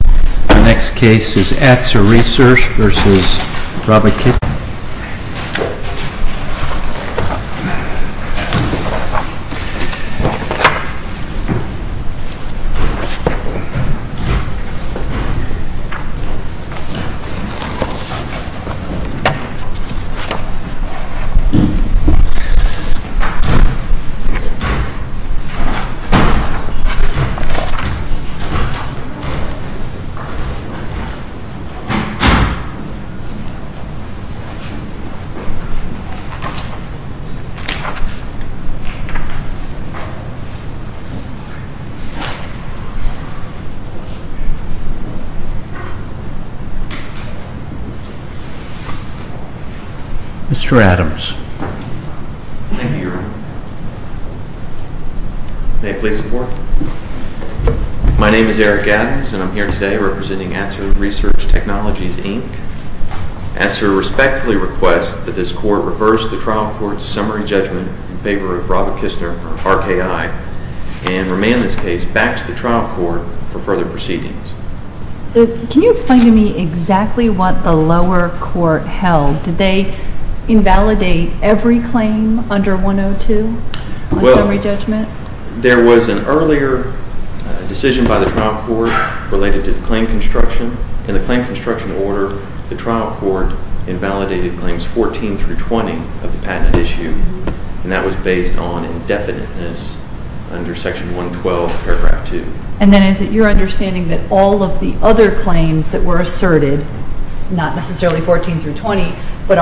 The next case is Atser Research v. Raba-Kistner. Mr. Adams. Thank you, Your Honor. May I please have the floor? My name is Eric Adams and I'm here today representing Atser Research Technologies, Inc. Atser respectfully requests that this court reverse the trial court's summary judgment in favor of Raba-Kistner, RKI, and remand this case back to the trial court for further proceedings. Can you explain to me exactly what the lower court held? Did they invalidate every claim under 102 on summary judgment? There was an earlier decision by the trial court related to the claim construction. In the claim construction order, the trial court invalidated claims 14 through 20 of the patent issue, and that was based on indefiniteness under section 112, paragraph 2. And then is it your understanding that all of the other claims that were asserted, not necessarily 14 through 20, Yes,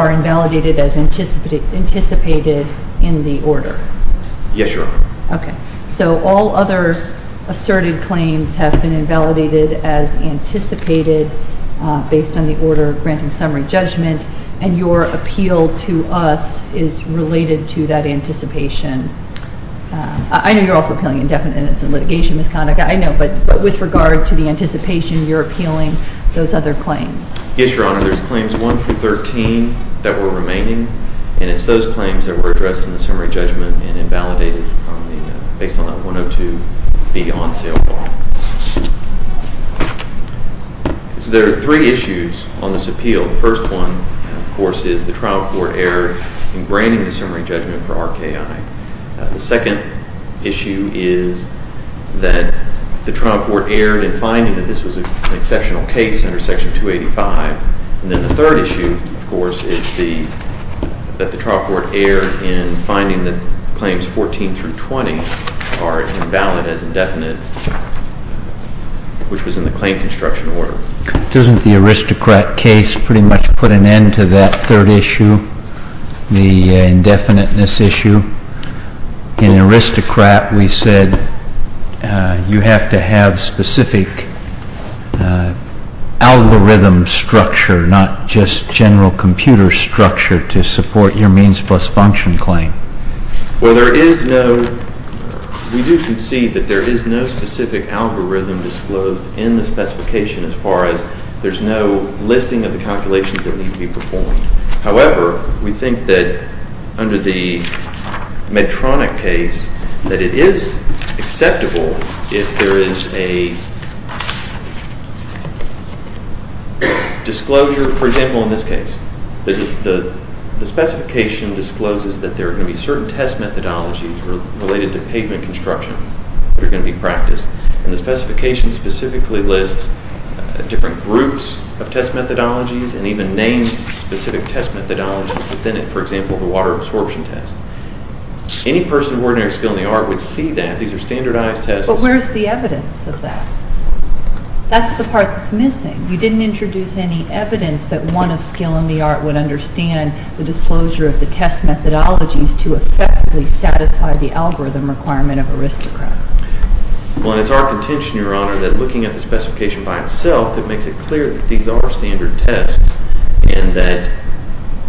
Your Honor. Okay. So all other asserted claims have been invalidated as anticipated based on the order granting summary judgment, and your appeal to us is related to that anticipation. I know you're also appealing indefiniteness in litigation misconduct, I know, but with regard to the anticipation, you're appealing those other claims? Yes, Your Honor. So there's claims 1 through 13 that were remaining, and it's those claims that were addressed in the summary judgment and invalidated based on that 102B on sale law. So there are three issues on this appeal. The first one, of course, is the trial court erred in granting the summary judgment for RKI. The second issue is that the trial court erred in finding that this was an exceptional case under section 285. And then the third issue, of course, is that the trial court erred in finding that claims 14 through 20 are invalid as indefinite, which was in the claim construction order. Doesn't the aristocrat case pretty much put an end to that third issue, the indefiniteness issue? In aristocrat, we said you have to have specific algorithm structure, not just general computer structure, to support your means plus function claim. Well, there is no—we do concede that there is no specific algorithm disclosed in the specification as far as there's no listing of the calculations that need to be performed. However, we think that under the Medtronic case, that it is acceptable if there is a disclosure, for example, in this case. The specification discloses that there are going to be certain test methodologies related to pavement construction that are going to be practiced. And the specification specifically lists different groups of test methodologies and even names specific test methodologies within it. For example, the water absorption test. Any person of ordinary skill in the art would see that. These are standardized tests. That's the part that's missing. You didn't introduce any evidence that one of skill in the art would understand the disclosure of the test methodologies to effectively satisfy the algorithm requirement of aristocrat. Well, it's our contention, Your Honor, that looking at the specification by itself, it makes it clear that these are standard tests and that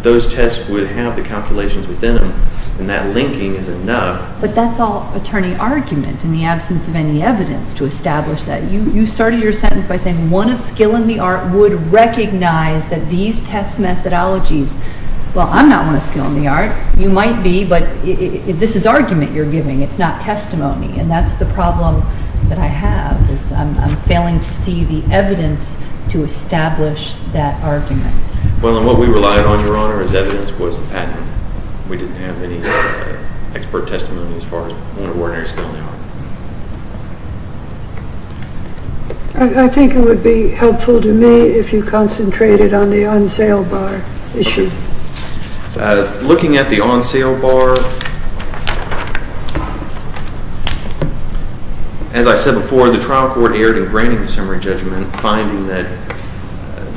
those tests would have the calculations within them. And that linking is enough. But that's all attorney argument in the absence of any evidence to establish that. You started your sentence by saying one of skill in the art would recognize that these test methodologies Well, I'm not one of skill in the art. You might be, but this is argument you're giving. It's not testimony. And that's the problem that I have is I'm failing to see the evidence to establish that argument. Well, and what we relied on, Your Honor, is evidence was the patent. We didn't have any expert testimony as far as one of ordinary skill in the art. I think it would be helpful to me if you concentrated on the on-sale bar issue. Looking at the on-sale bar, as I said before, the trial court erred in granting the summary judgment, finding that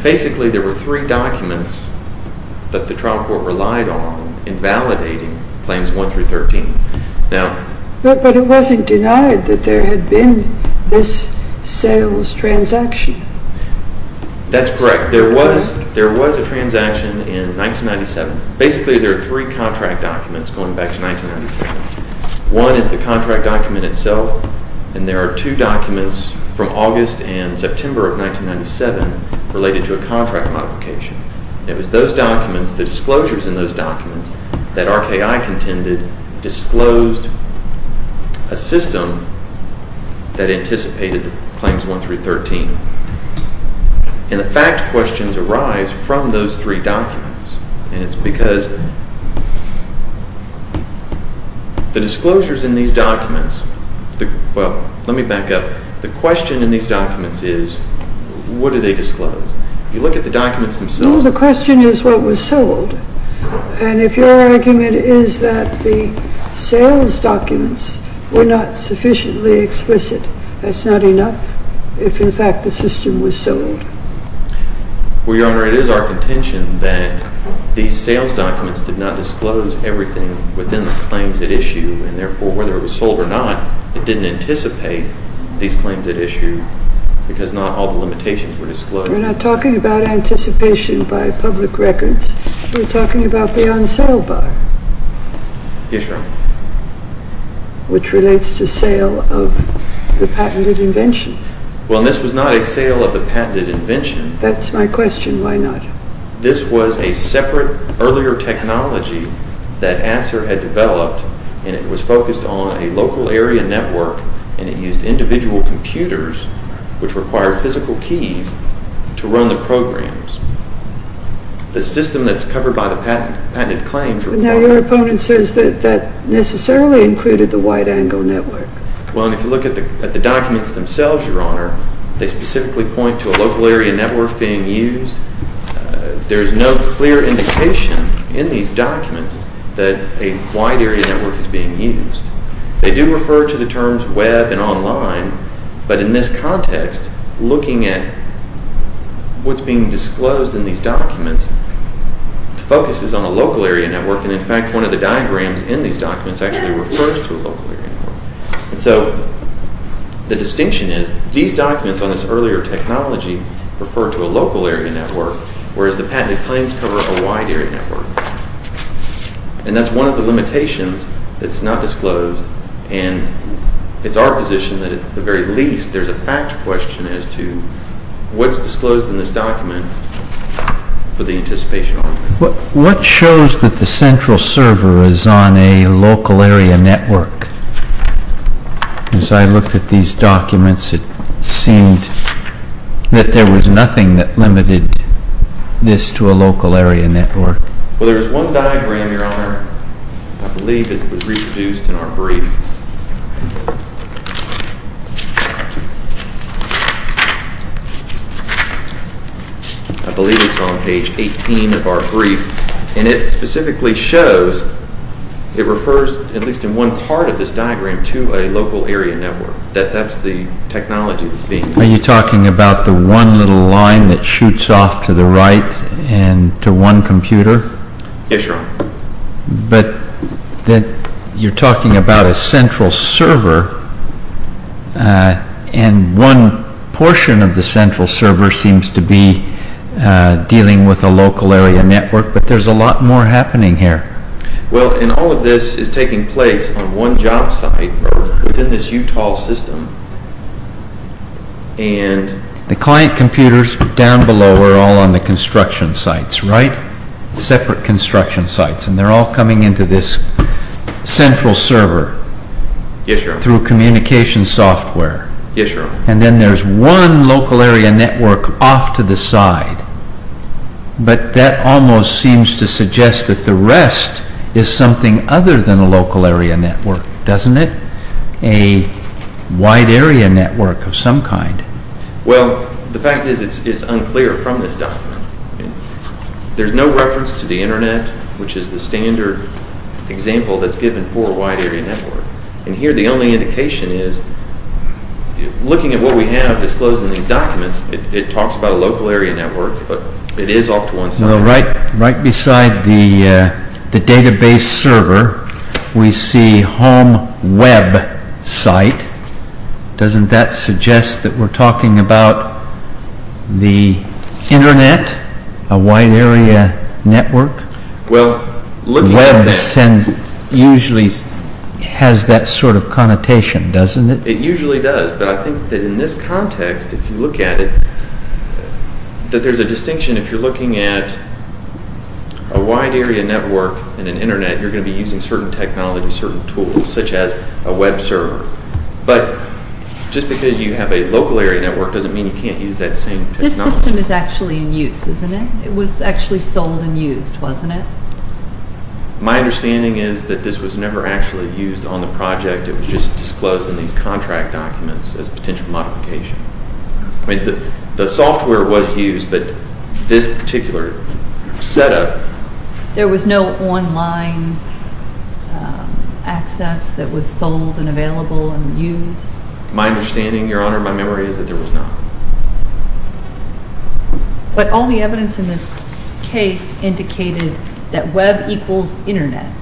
basically there were three documents that the trial court relied on in validating claims 1 through 13. But it wasn't denied that there had been this sales transaction. That's correct. There was a transaction in 1997. Basically, there are three contract documents going back to 1997. One is the contract document itself, and there are two documents from August and September of 1997 related to a contract modification. It was those documents, the disclosures in those documents, that RKI contended disclosed a system that anticipated the claims 1 through 13. And the fact questions arise from those three documents. And it's because the disclosures in these documents, well, let me back up. The question in these documents is what do they disclose? You look at the documents themselves. No, the question is what was sold. And if your argument is that the sales documents were not sufficiently explicit, that's not enough if, in fact, the system was sold. Well, Your Honor, it is our contention that these sales documents did not disclose everything within the claims at issue. And, therefore, whether it was sold or not, it didn't anticipate these claims at issue because not all the limitations were disclosed. We're not talking about anticipation by public records. We're talking about the on-sale bar. Yes, Your Honor. Which relates to sale of the patented invention. Well, this was not a sale of the patented invention. That's my question. Why not? This was a separate, earlier technology that ANSWER had developed, and it was focused on a local area network, and it used individual computers, which required physical keys, to run the programs. The system that's covered by the patented claims required... But now your opponent says that that necessarily included the wide-angle network. Well, and if you look at the documents themselves, Your Honor, they specifically point to a local area network being used. There is no clear indication in these documents that a wide area network is being used. They do refer to the terms web and online, but in this context, looking at what's being disclosed in these documents focuses on a local area network, and in fact, one of the diagrams in these documents actually refers to a local area network. And so the distinction is these documents on this earlier technology refer to a local area network, whereas the patented claims cover a wide area network. And that's one of the limitations that's not disclosed, and it's our position that at the very least there's a fact question as to what's disclosed in this document for the anticipation of argument. What shows that the central server is on a local area network? As I looked at these documents, it seemed that there was nothing that limited this to a local area network. Well, there's one diagram, Your Honor, I believe it was reproduced in our brief. I believe it's on page 18 of our brief, and it specifically shows it refers, at least in one part of this diagram, to a local area network, that that's the technology that's being used. Are you talking about the one little line that shoots off to the right and to one computer? Yes, Your Honor. But you're talking about a central server, and one portion of the central server seems to be dealing with a local area network, but there's a lot more happening here. Well, and all of this is taking place on one job site within this Utah system. And the client computers down below are all on the construction sites, right? Separate construction sites. And they're all coming into this central server through communication software. Yes, Your Honor. And then there's one local area network off to the side, but that almost seems to suggest that the rest is something other than a local area network, doesn't it? A wide area network of some kind. Well, the fact is it's unclear from this document. There's no reference to the Internet, which is the standard example that's given for a wide area network. And here the only indication is, looking at what we have disclosed in these documents, it talks about a local area network, but it is off to one side. Well, right beside the database server, we see home web site. Doesn't that suggest that we're talking about the Internet? A wide area network? Well, looking at that... Web sends... usually has that sort of connotation, doesn't it? It usually does, but I think that in this context, if you look at it, that there's a distinction. If you're looking at a wide area network and an Internet, you're going to be using certain technology, certain tools, such as a web server. But just because you have a local area network doesn't mean you can't use that same technology. This system is actually in use, isn't it? It was actually sold and used, wasn't it? My understanding is that this was never actually used on the project. It was just disclosed in these contract documents as a potential modification. The software was used, but this particular setup... There was no online access that was sold and available and used? My understanding, Your Honor, my memory is that there was not. But all the evidence in this case indicated that web equals Internet,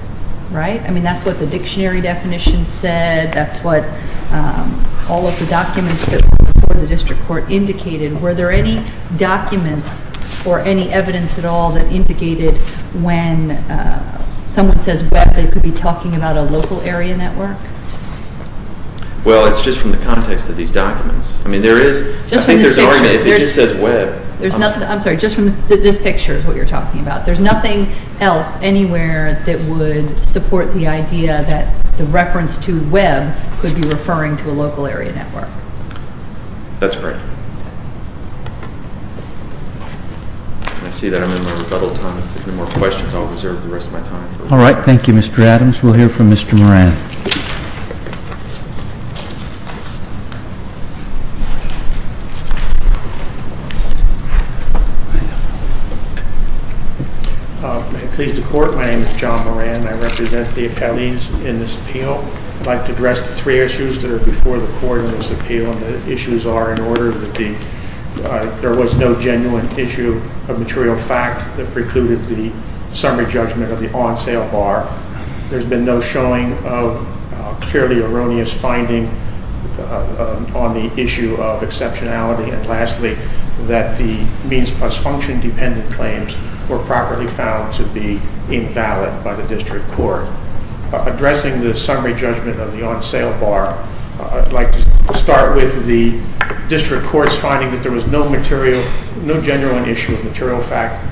right? I mean, that's what the dictionary definition said. That's what all of the documents that were before the district court indicated. Were there any documents or any evidence at all that indicated when someone says web, they could be talking about a local area network? Well, it's just from the context of these documents. I mean, there is... I think there's already... If it just says web... I'm sorry. Just from this picture is what you're talking about. There's nothing else anywhere that would support the idea that the reference to web could be referring to a local area network. That's correct. I see that I'm in my rebuttal time. If there are no more questions, I'll reserve the rest of my time. All right. Thank you, Mr. Adams. We'll hear from Mr. Moran. I'm pleased to court. My name is John Moran. I represent the appellees in this appeal. I'd like to address the three issues that are before the court in this appeal. And the issues are in order that the... There was no genuine issue of material fact that precluded the summary judgment of the on-sale bar. There's been no showing of purely erroneous finding on the issue of exceptionality. And lastly, that the means plus function dependent claims were properly found to be invalid by the district court. Addressing the summary judgment of the on-sale bar, I'd like to start with the district court's finding that there was no material, no genuine issue of material fact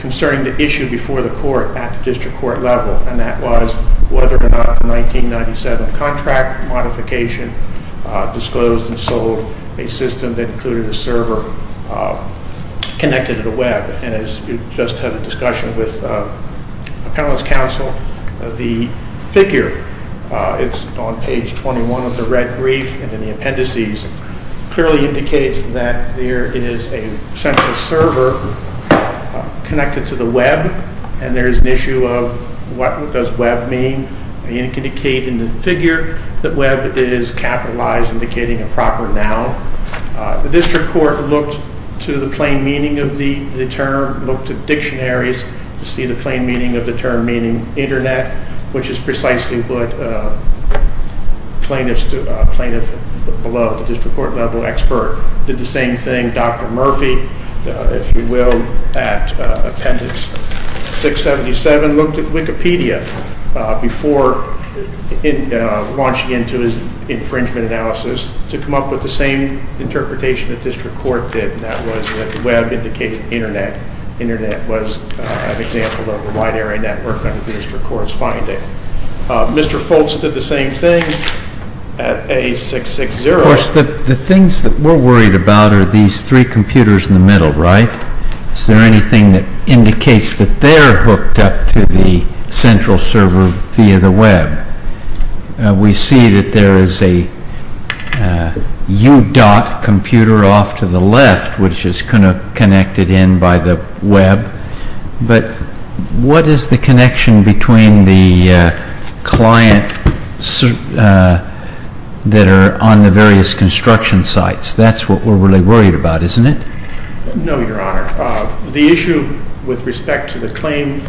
concerning the issue before the court at the district court level. And that was whether or not the 1997 contract modification disclosed and sold a system that included a server connected to the web. And as we just had a discussion with appellant's counsel, the figure, it's on page 21 of the red brief and in the appendices, clearly indicates that there is a central server connected to the web. And there's an issue of what does web mean. And it can indicate in the figure that web is capitalized, indicating a proper noun. The district court looked to the plain meaning of the term, looked at dictionaries to see the plain meaning of the term meaning internet, which is precisely what plaintiff below, the district court level expert, did the same thing. Dr. Murphy, if you will, at appendix 677, looked at Wikipedia before launching into his infringement analysis to come up with the same interpretation that district court did, and that was that the web indicated internet. Internet was an example of a wide area network under district court's finding. Mr. Foltz did the same thing at A660. Of course, the things that we're worried about are these three computers in the middle, right? Is there anything that indicates that they're hooked up to the central server via the web? We see that there is a U-dot computer off to the left, which is kind of connected in by the web. But what is the connection between the clients that are on the various construction sites? That's what we're really worried about, isn't it? No, Your Honor. The issue with respect to the claim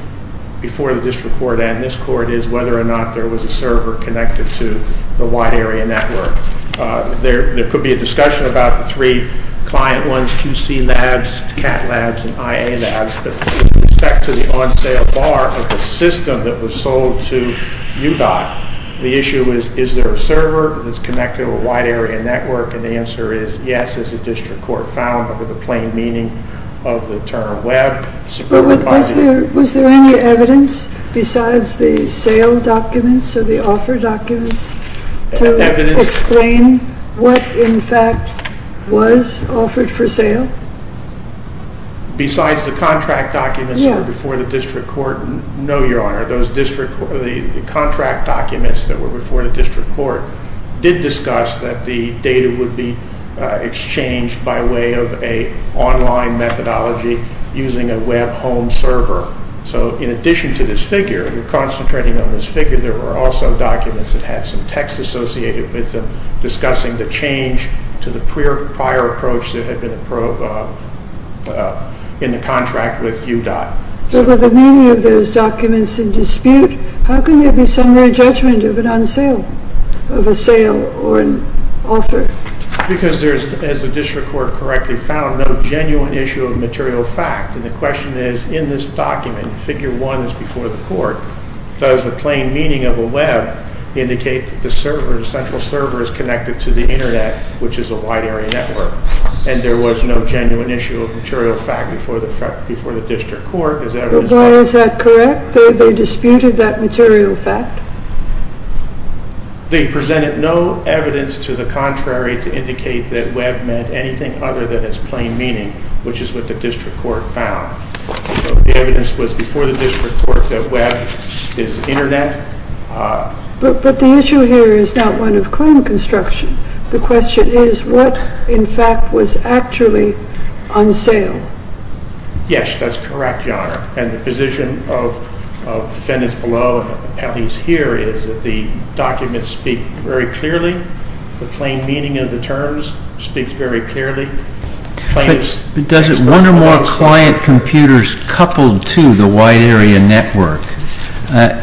before the district court and this court is whether or not there was a server connected to the wide area network. There could be a discussion about the three client ones, QC Labs, CAT Labs, and IA Labs, but with respect to the on-sale bar of the system that was sold to U-dot, the issue is, is there a server that's connected to a wide area network? And the answer is yes, as the district court found under the plain meaning of the term web. Was there any evidence besides the sale documents or the offer documents to explain what, in fact, was offered for sale? Besides the contract documents that were before the district court? No, Your Honor. The contract documents that were before the district court did discuss that the data would be exchanged by way of an online methodology using a web home server. So, in addition to this figure, and we're concentrating on this figure, there were also documents that had some text associated with them discussing the change to the prior approach that had been in the contract with U-dot. But with the meaning of those documents in dispute, how can there be some way of judgment of an on-sale, of a sale or an offer? Because there's, as the district court correctly found, no genuine issue of material fact. And the question is, in this document, figure one is before the court, does the plain meaning of a web indicate that the server, the central server is connected to the internet, which is a wide area network? And there was no genuine issue of material fact before the district court. But why is that correct? They disputed that material fact? They presented no evidence to the contrary to indicate that web meant anything other than its plain meaning, which is what the district court found. The evidence was before the district court that web is internet. But the issue here is not one of claim construction. The question is, what, in fact, was actually on sale? Yes, that's correct, Your Honor. And the position of defendants below, at least here, is that the documents speak very clearly. The plain meaning of the terms speaks very clearly. But does one or more client computers coupled to the wide area network,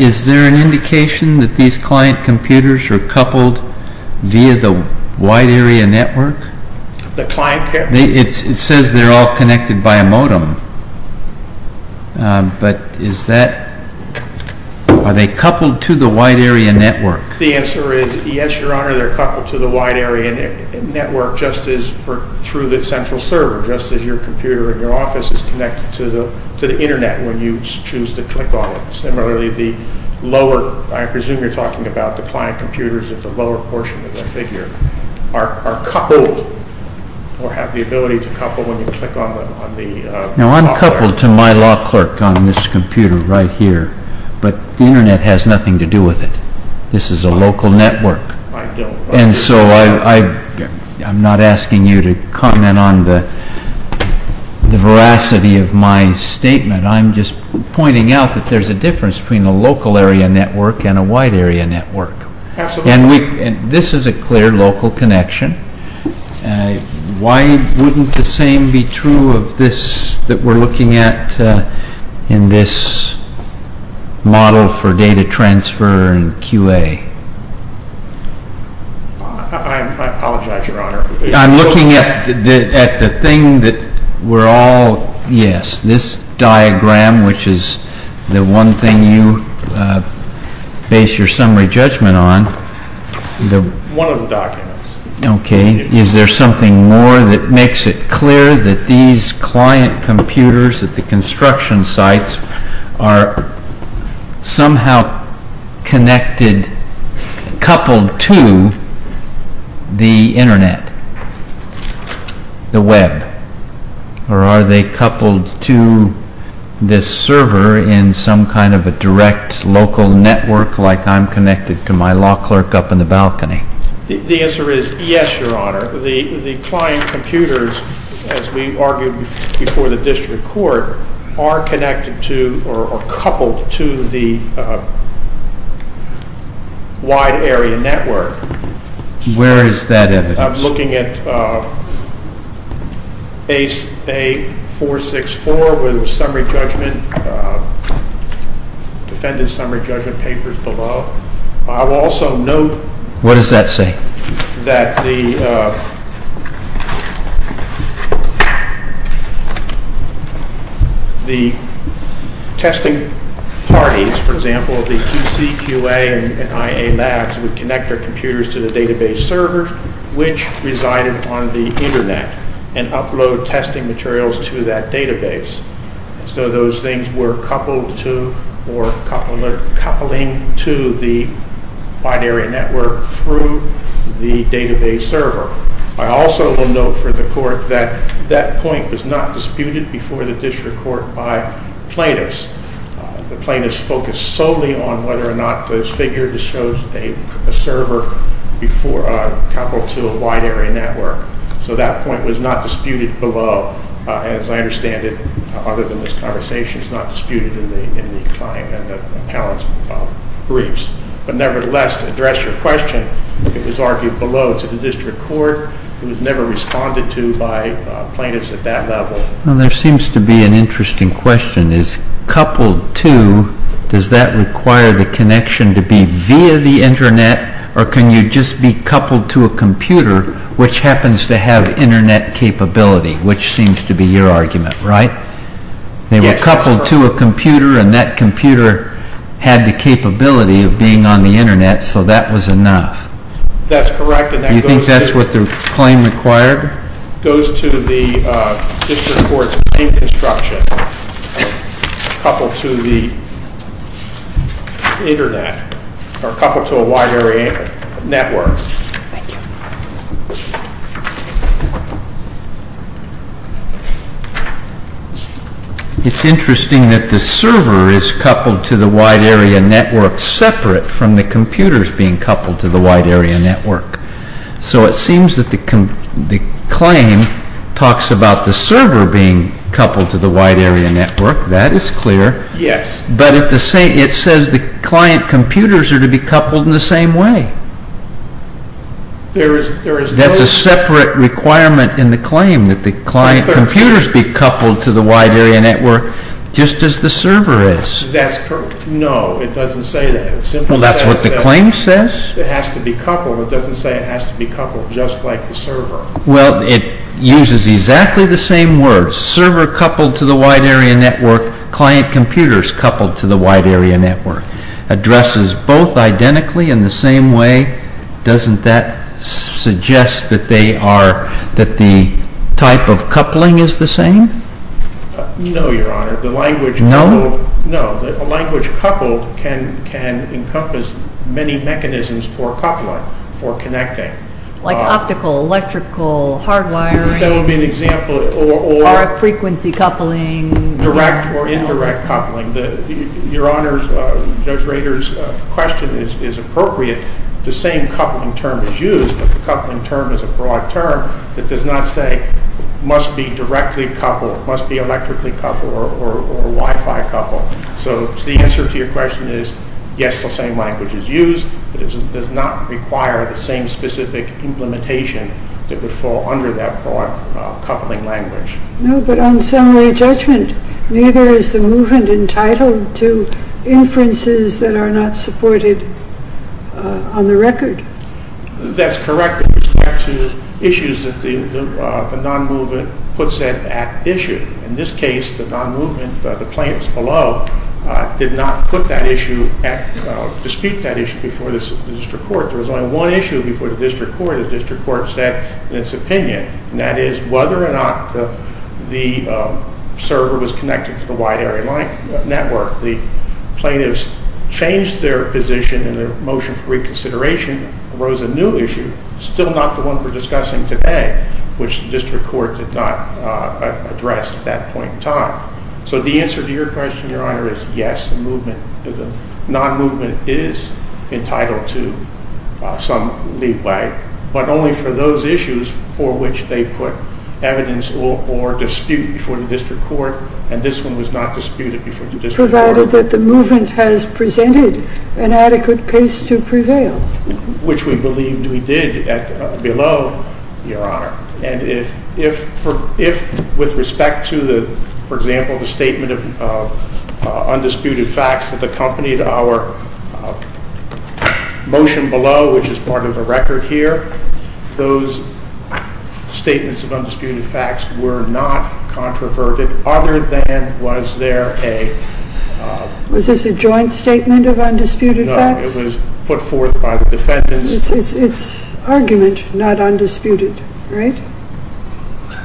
is there an indication that these client computers are coupled via the wide area network? The client computers? It says they're all connected by a modem. But is that, are they coupled to the wide area network? The answer is, yes, Your Honor, they're coupled to the wide area network just as through the central server, just as your computer in your office is connected to the internet when you choose to click on it. Similarly, the lower, I presume you're talking about the client computers at the lower portion of the figure, are coupled, or have the ability to couple when you click on them. Now, I'm coupled to my law clerk on this computer right here, but the internet has nothing to do with it. This is a local network. And so I'm not asking you to comment on the veracity of my statement. I'm just pointing out that there's a difference between a local area network and a wide area network. And this is a clear local connection. Why wouldn't the same be true of this that we're looking at in this model for data transfer and QA? I apologize, Your Honor. I'm looking at the thing that we're all, yes, this diagram, which is the one thing you base your summary judgment on. One of the documents. Okay. Is there something more that makes it clear that these client computers at the construction sites are somehow connected, coupled to the internet, the web? Or are they coupled to this server in some kind of a direct local network like I'm connected to my law clerk up in the balcony? The answer is yes, Your Honor. The client computers, as we argued before the district court, are connected to or coupled to the wide area network. Where is that evidence? I'm looking at A464 with summary judgment, defendant's summary judgment papers below. I will also note that the testing parties, for example, the QC, QA, and IA labs, would connect their computers to the database server, which resided on the internet and upload testing materials to that database. So those things were coupled to or coupling to the wide area network through the database server. I also will note for the court that that point was not disputed before the district court by plaintiffs. The plaintiffs focused solely on whether or not those figures showed a server coupled to a wide area network. So that point was not disputed below. As I understand it, other than this conversation, it's not disputed in the client and the appellant's briefs. But nevertheless, to address your question, it was argued below to the district court. It was never responded to by plaintiffs at that level. Well, there seems to be an interesting question. Is coupled to, does that require the connection to be via the internet, or can you just be coupled to a computer, which happens to have internet capability, which seems to be your argument, right? They were coupled to a computer, and that computer had the capability of being on the internet, so that was enough. That's correct. Do you think that's what the claim required? It goes to the district court's main construction, coupled to the internet, or coupled to a wide area network. Thank you. It's interesting that the server is coupled to the wide area network separate from the computers being coupled to the wide area network. So it seems that the claim talks about the server being coupled to the wide area network. That is clear. Yes. But it says the client computers are to be coupled in the same way. That's a separate requirement in the claim, that the client computers be coupled to the wide area network, just as the server is. No, it doesn't say that. Well, that's what the claim says. It has to be coupled. It doesn't say it has to be coupled just like the server. Well, it uses exactly the same words, server coupled to the wide area network, client computers coupled to the wide area network. Addresses both identically in the same way. Doesn't that suggest that the type of coupling is the same? No, Your Honor. No? No. A language coupled can encompass many mechanisms for coupling, for connecting. Like optical, electrical, hardwiring. That would be an example. Or frequency coupling. Direct or indirect coupling. Your Honor, Judge Rader's question is appropriate. The same coupling term is used, but the coupling term is a broad term that does not say must be directly coupled, must be electrically coupled, or Wi-Fi coupled. So the answer to your question is, yes, the same language is used, but it does not require the same specific implementation that would fall under that broad coupling language. No, but on summary judgment, neither is the movement entitled to inferences that are not supported on the record. That's correct with respect to issues that the non-movement puts at issue. In this case, the non-movement, the plaintiffs below, did not put that issue, dispute that issue before the district court. There was only one issue before the district court. The district court said in its opinion, and that is whether or not the server was connected to the wide area network. The plaintiffs changed their position in their motion for reconsideration, arose a new issue, still not the one we're discussing today, which the district court did not address at that point in time. So the answer to your question, Your Honor, is yes, the non-movement is entitled to some leeway, but only for those issues for which they put evidence or dispute before the district court, and this one was not disputed before the district court. Provided that the movement has presented an adequate case to prevail. Which we believe we did below, Your Honor. And if, with respect to the, for example, the statement of undisputed facts that accompanied our motion below, which is part of the record here, those statements of undisputed facts were not controverted, other than was there a... Was this a joint statement of undisputed facts? No, it was put forth by the defendants. It's argument, not undisputed, right?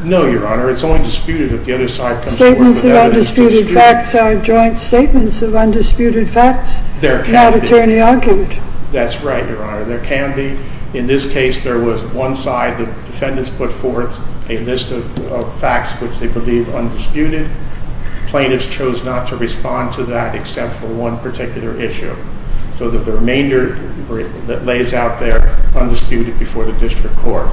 No, Your Honor, it's only disputed if the other side comes forward with evidence. Statements of undisputed facts are joint statements of undisputed facts, not attorney argument. That's right, Your Honor, there can be. In this case, there was one side, the defendants put forth a list of facts which they believe undisputed. Plaintiffs chose not to respond to that except for one particular issue. So that the remainder that lays out there, undisputed before the district court.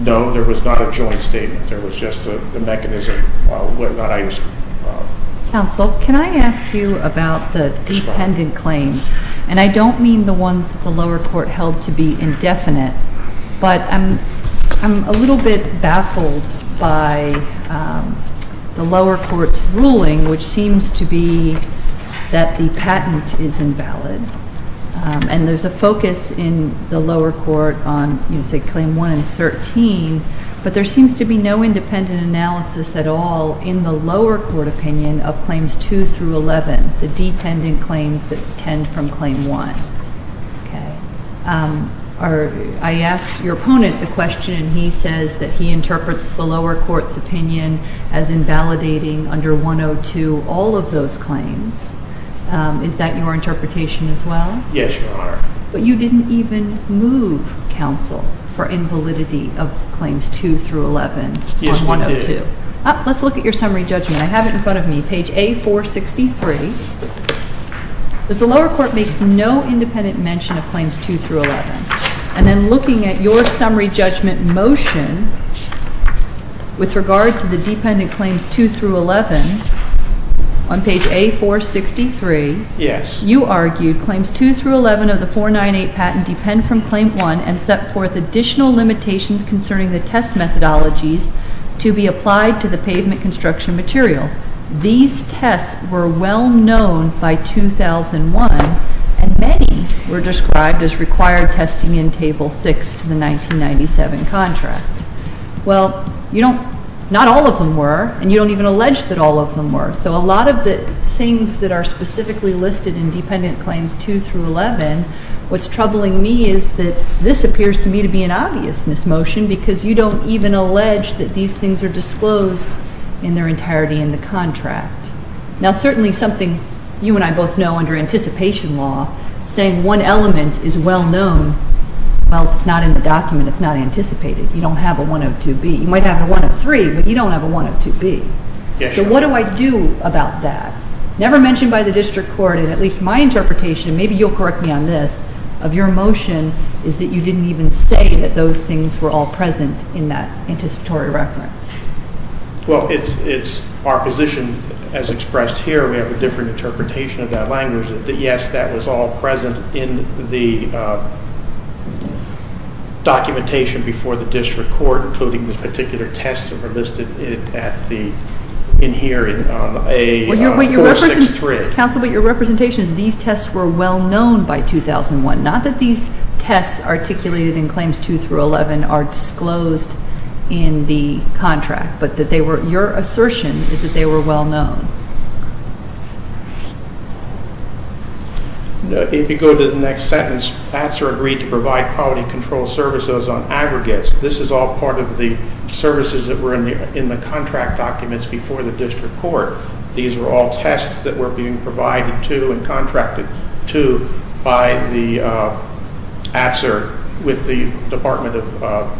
No, there was not a joint statement. There was just a mechanism. Counsel, can I ask you about the dependent claims? And I don't mean the ones that the lower court held to be indefinite, but I'm a little bit baffled by the lower court's ruling, which seems to be that the patent is invalid. And there's a focus in the lower court on, you know, say, Claim 1 and 13, but there seems to be no independent analysis at all in the lower court opinion of Claims 2 through 11, the dependent claims that tend from Claim 1. I asked your opponent the question, and he says that he interprets the lower court's opinion as invalidating under 102 all of those claims. Is that your interpretation as well? Yes, Your Honor. But you didn't even move, Counsel, for invalidity of Claims 2 through 11 on 102. Yes, we did. Let's look at your summary judgment. I have it in front of me, page A463. The lower court makes no independent mention of Claims 2 through 11. And then looking at your summary judgment motion with regards to the dependent claims 2 through 11, on page A463, you argued Claims 2 through 11 of the 498 patent depend from Claim 1 and set forth additional limitations concerning the test methodologies to be applied to the pavement construction material. These tests were well known by 2001, and many were described as required testing in Table 6 to the 1997 contract. Well, not all of them were, and you don't even allege that all of them were. So a lot of the things that are specifically listed in Dependent Claims 2 through 11, what's troubling me is that this appears to me to be an obvious mismotion because you don't even allege that these things are disclosed in their entirety in the contract. Now certainly something you and I both know under anticipation law, saying one element is well known, well, it's not in the document. It's not anticipated. You don't have a 102B. You might have a 103, but you don't have a 102B. So what do I do about that? Never mentioned by the district court, and at least my interpretation, and maybe you'll correct me on this, of your motion, is that you didn't even say that those things were all present in that anticipatory reference. Well, it's our position as expressed here. We have a different interpretation of that language. Yes, that was all present in the documentation before the district court, including the particular tests that were listed in here in 463. Counsel, but your representation is these tests were well known by 2001, not that these tests articulated in Claims 2 through 11 are disclosed in the contract, but your assertion is that they were well known. If you go to the next sentence, pats are agreed to provide quality control services on aggregates. This is all part of the services that were in the contract documents before the district court. These were all tests that were being provided to and contracted to by the AFSR with the Department of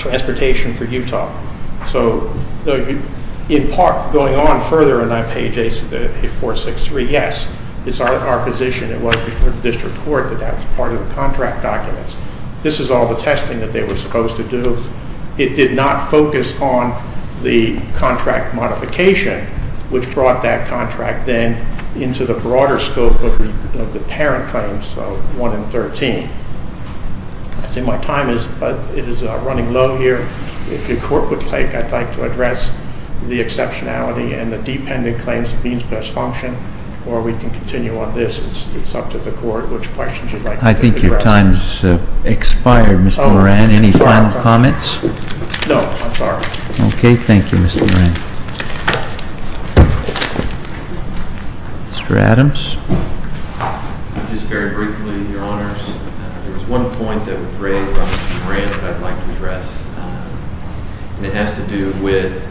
Transportation for Utah. So in part, going on further on page 8463, yes, it's our position. It was before the district court that that was part of the contract documents. This is all the testing that they were supposed to do. It did not focus on the contract modification, which brought that contract then into the broader scope of the parent claims, 1 and 13. I think my time is running low here. If the court would like, I'd like to address the exceptionality and the dependent claims of means-based function, or we can continue on this. It's up to the court which questions you'd like to address. I think your time has expired, Mr. Moran. Any final comments? No, I'm sorry. Okay, thank you, Mr. Moran. Mr. Adams? Just very briefly, Your Honors. There was one point that was raised by Mr. Moran that I'd like to address, and it has to do with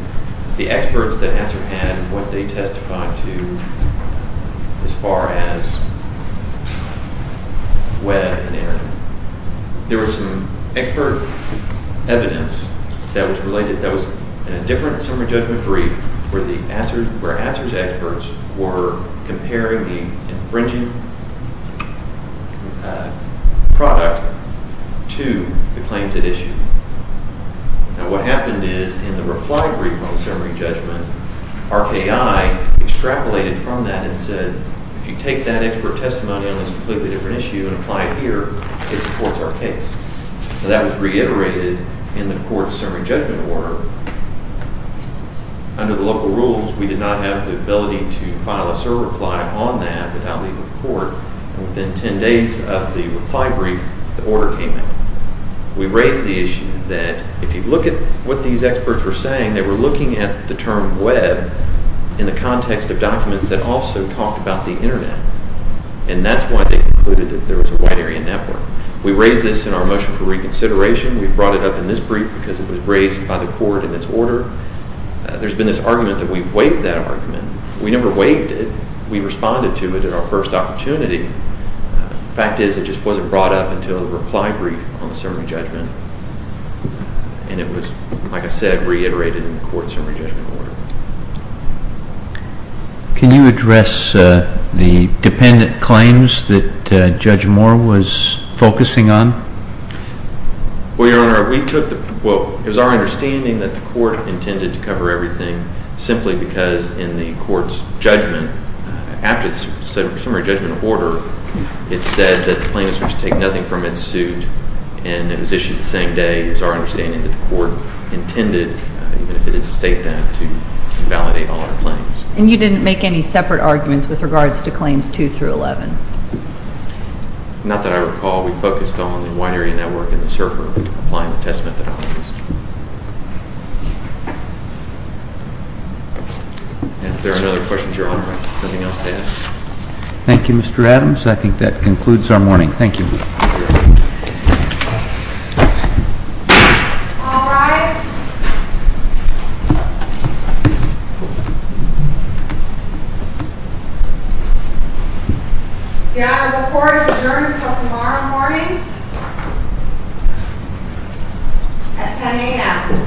the experts that answer and what they testified to as far as Webb and Aaron. There was some expert evidence that was related, that was in a different summary judgment brief where answers experts were comparing the infringing product to the claims at issue. Now, what happened is, in the reply brief on the summary judgment, RKI extrapolated from that and said, if you take that expert testimony on this completely different issue and apply it here, it supports our case. Now, that was reiterated in the court's summary judgment order. Under the local rules, we did not have the ability to file a SIR reply on that without leaving the court, and within 10 days of the reply brief, the order came in. We raised the issue that if you look at what these experts were saying, they were looking at the term Webb in the context of documents that also talked about the Internet, and that's why they concluded that there was a wide area network. We raised this in our motion for reconsideration. We brought it up in this brief because it was raised by the court in its order. There's been this argument that we waived that argument. We never waived it. We responded to it at our first opportunity. The fact is, it just wasn't brought up until the reply brief on the summary judgment, and it was, like I said, reiterated in the court's summary judgment order. Can you address the dependent claims that Judge Moore was focusing on? Well, Your Honor, we took the – well, it was our understanding that the court intended to cover everything simply because in the court's judgment, after the summary judgment order, it said that the plaintiffs must take nothing from its suit, and it was issued the same day. It was our understanding that the court intended, even if it didn't state that, to validate all our claims. And you didn't make any separate arguments with regards to claims 2 through 11? Not that I recall. We focused on the wide area network and the server applying the test methodologies. If there are no other questions, Your Honor, I have nothing else to add. Thank you, Mr. Adams. I think that concludes our morning. Thank you. All rise. Your Honor, the court is adjourned until tomorrow morning at 10 a.m.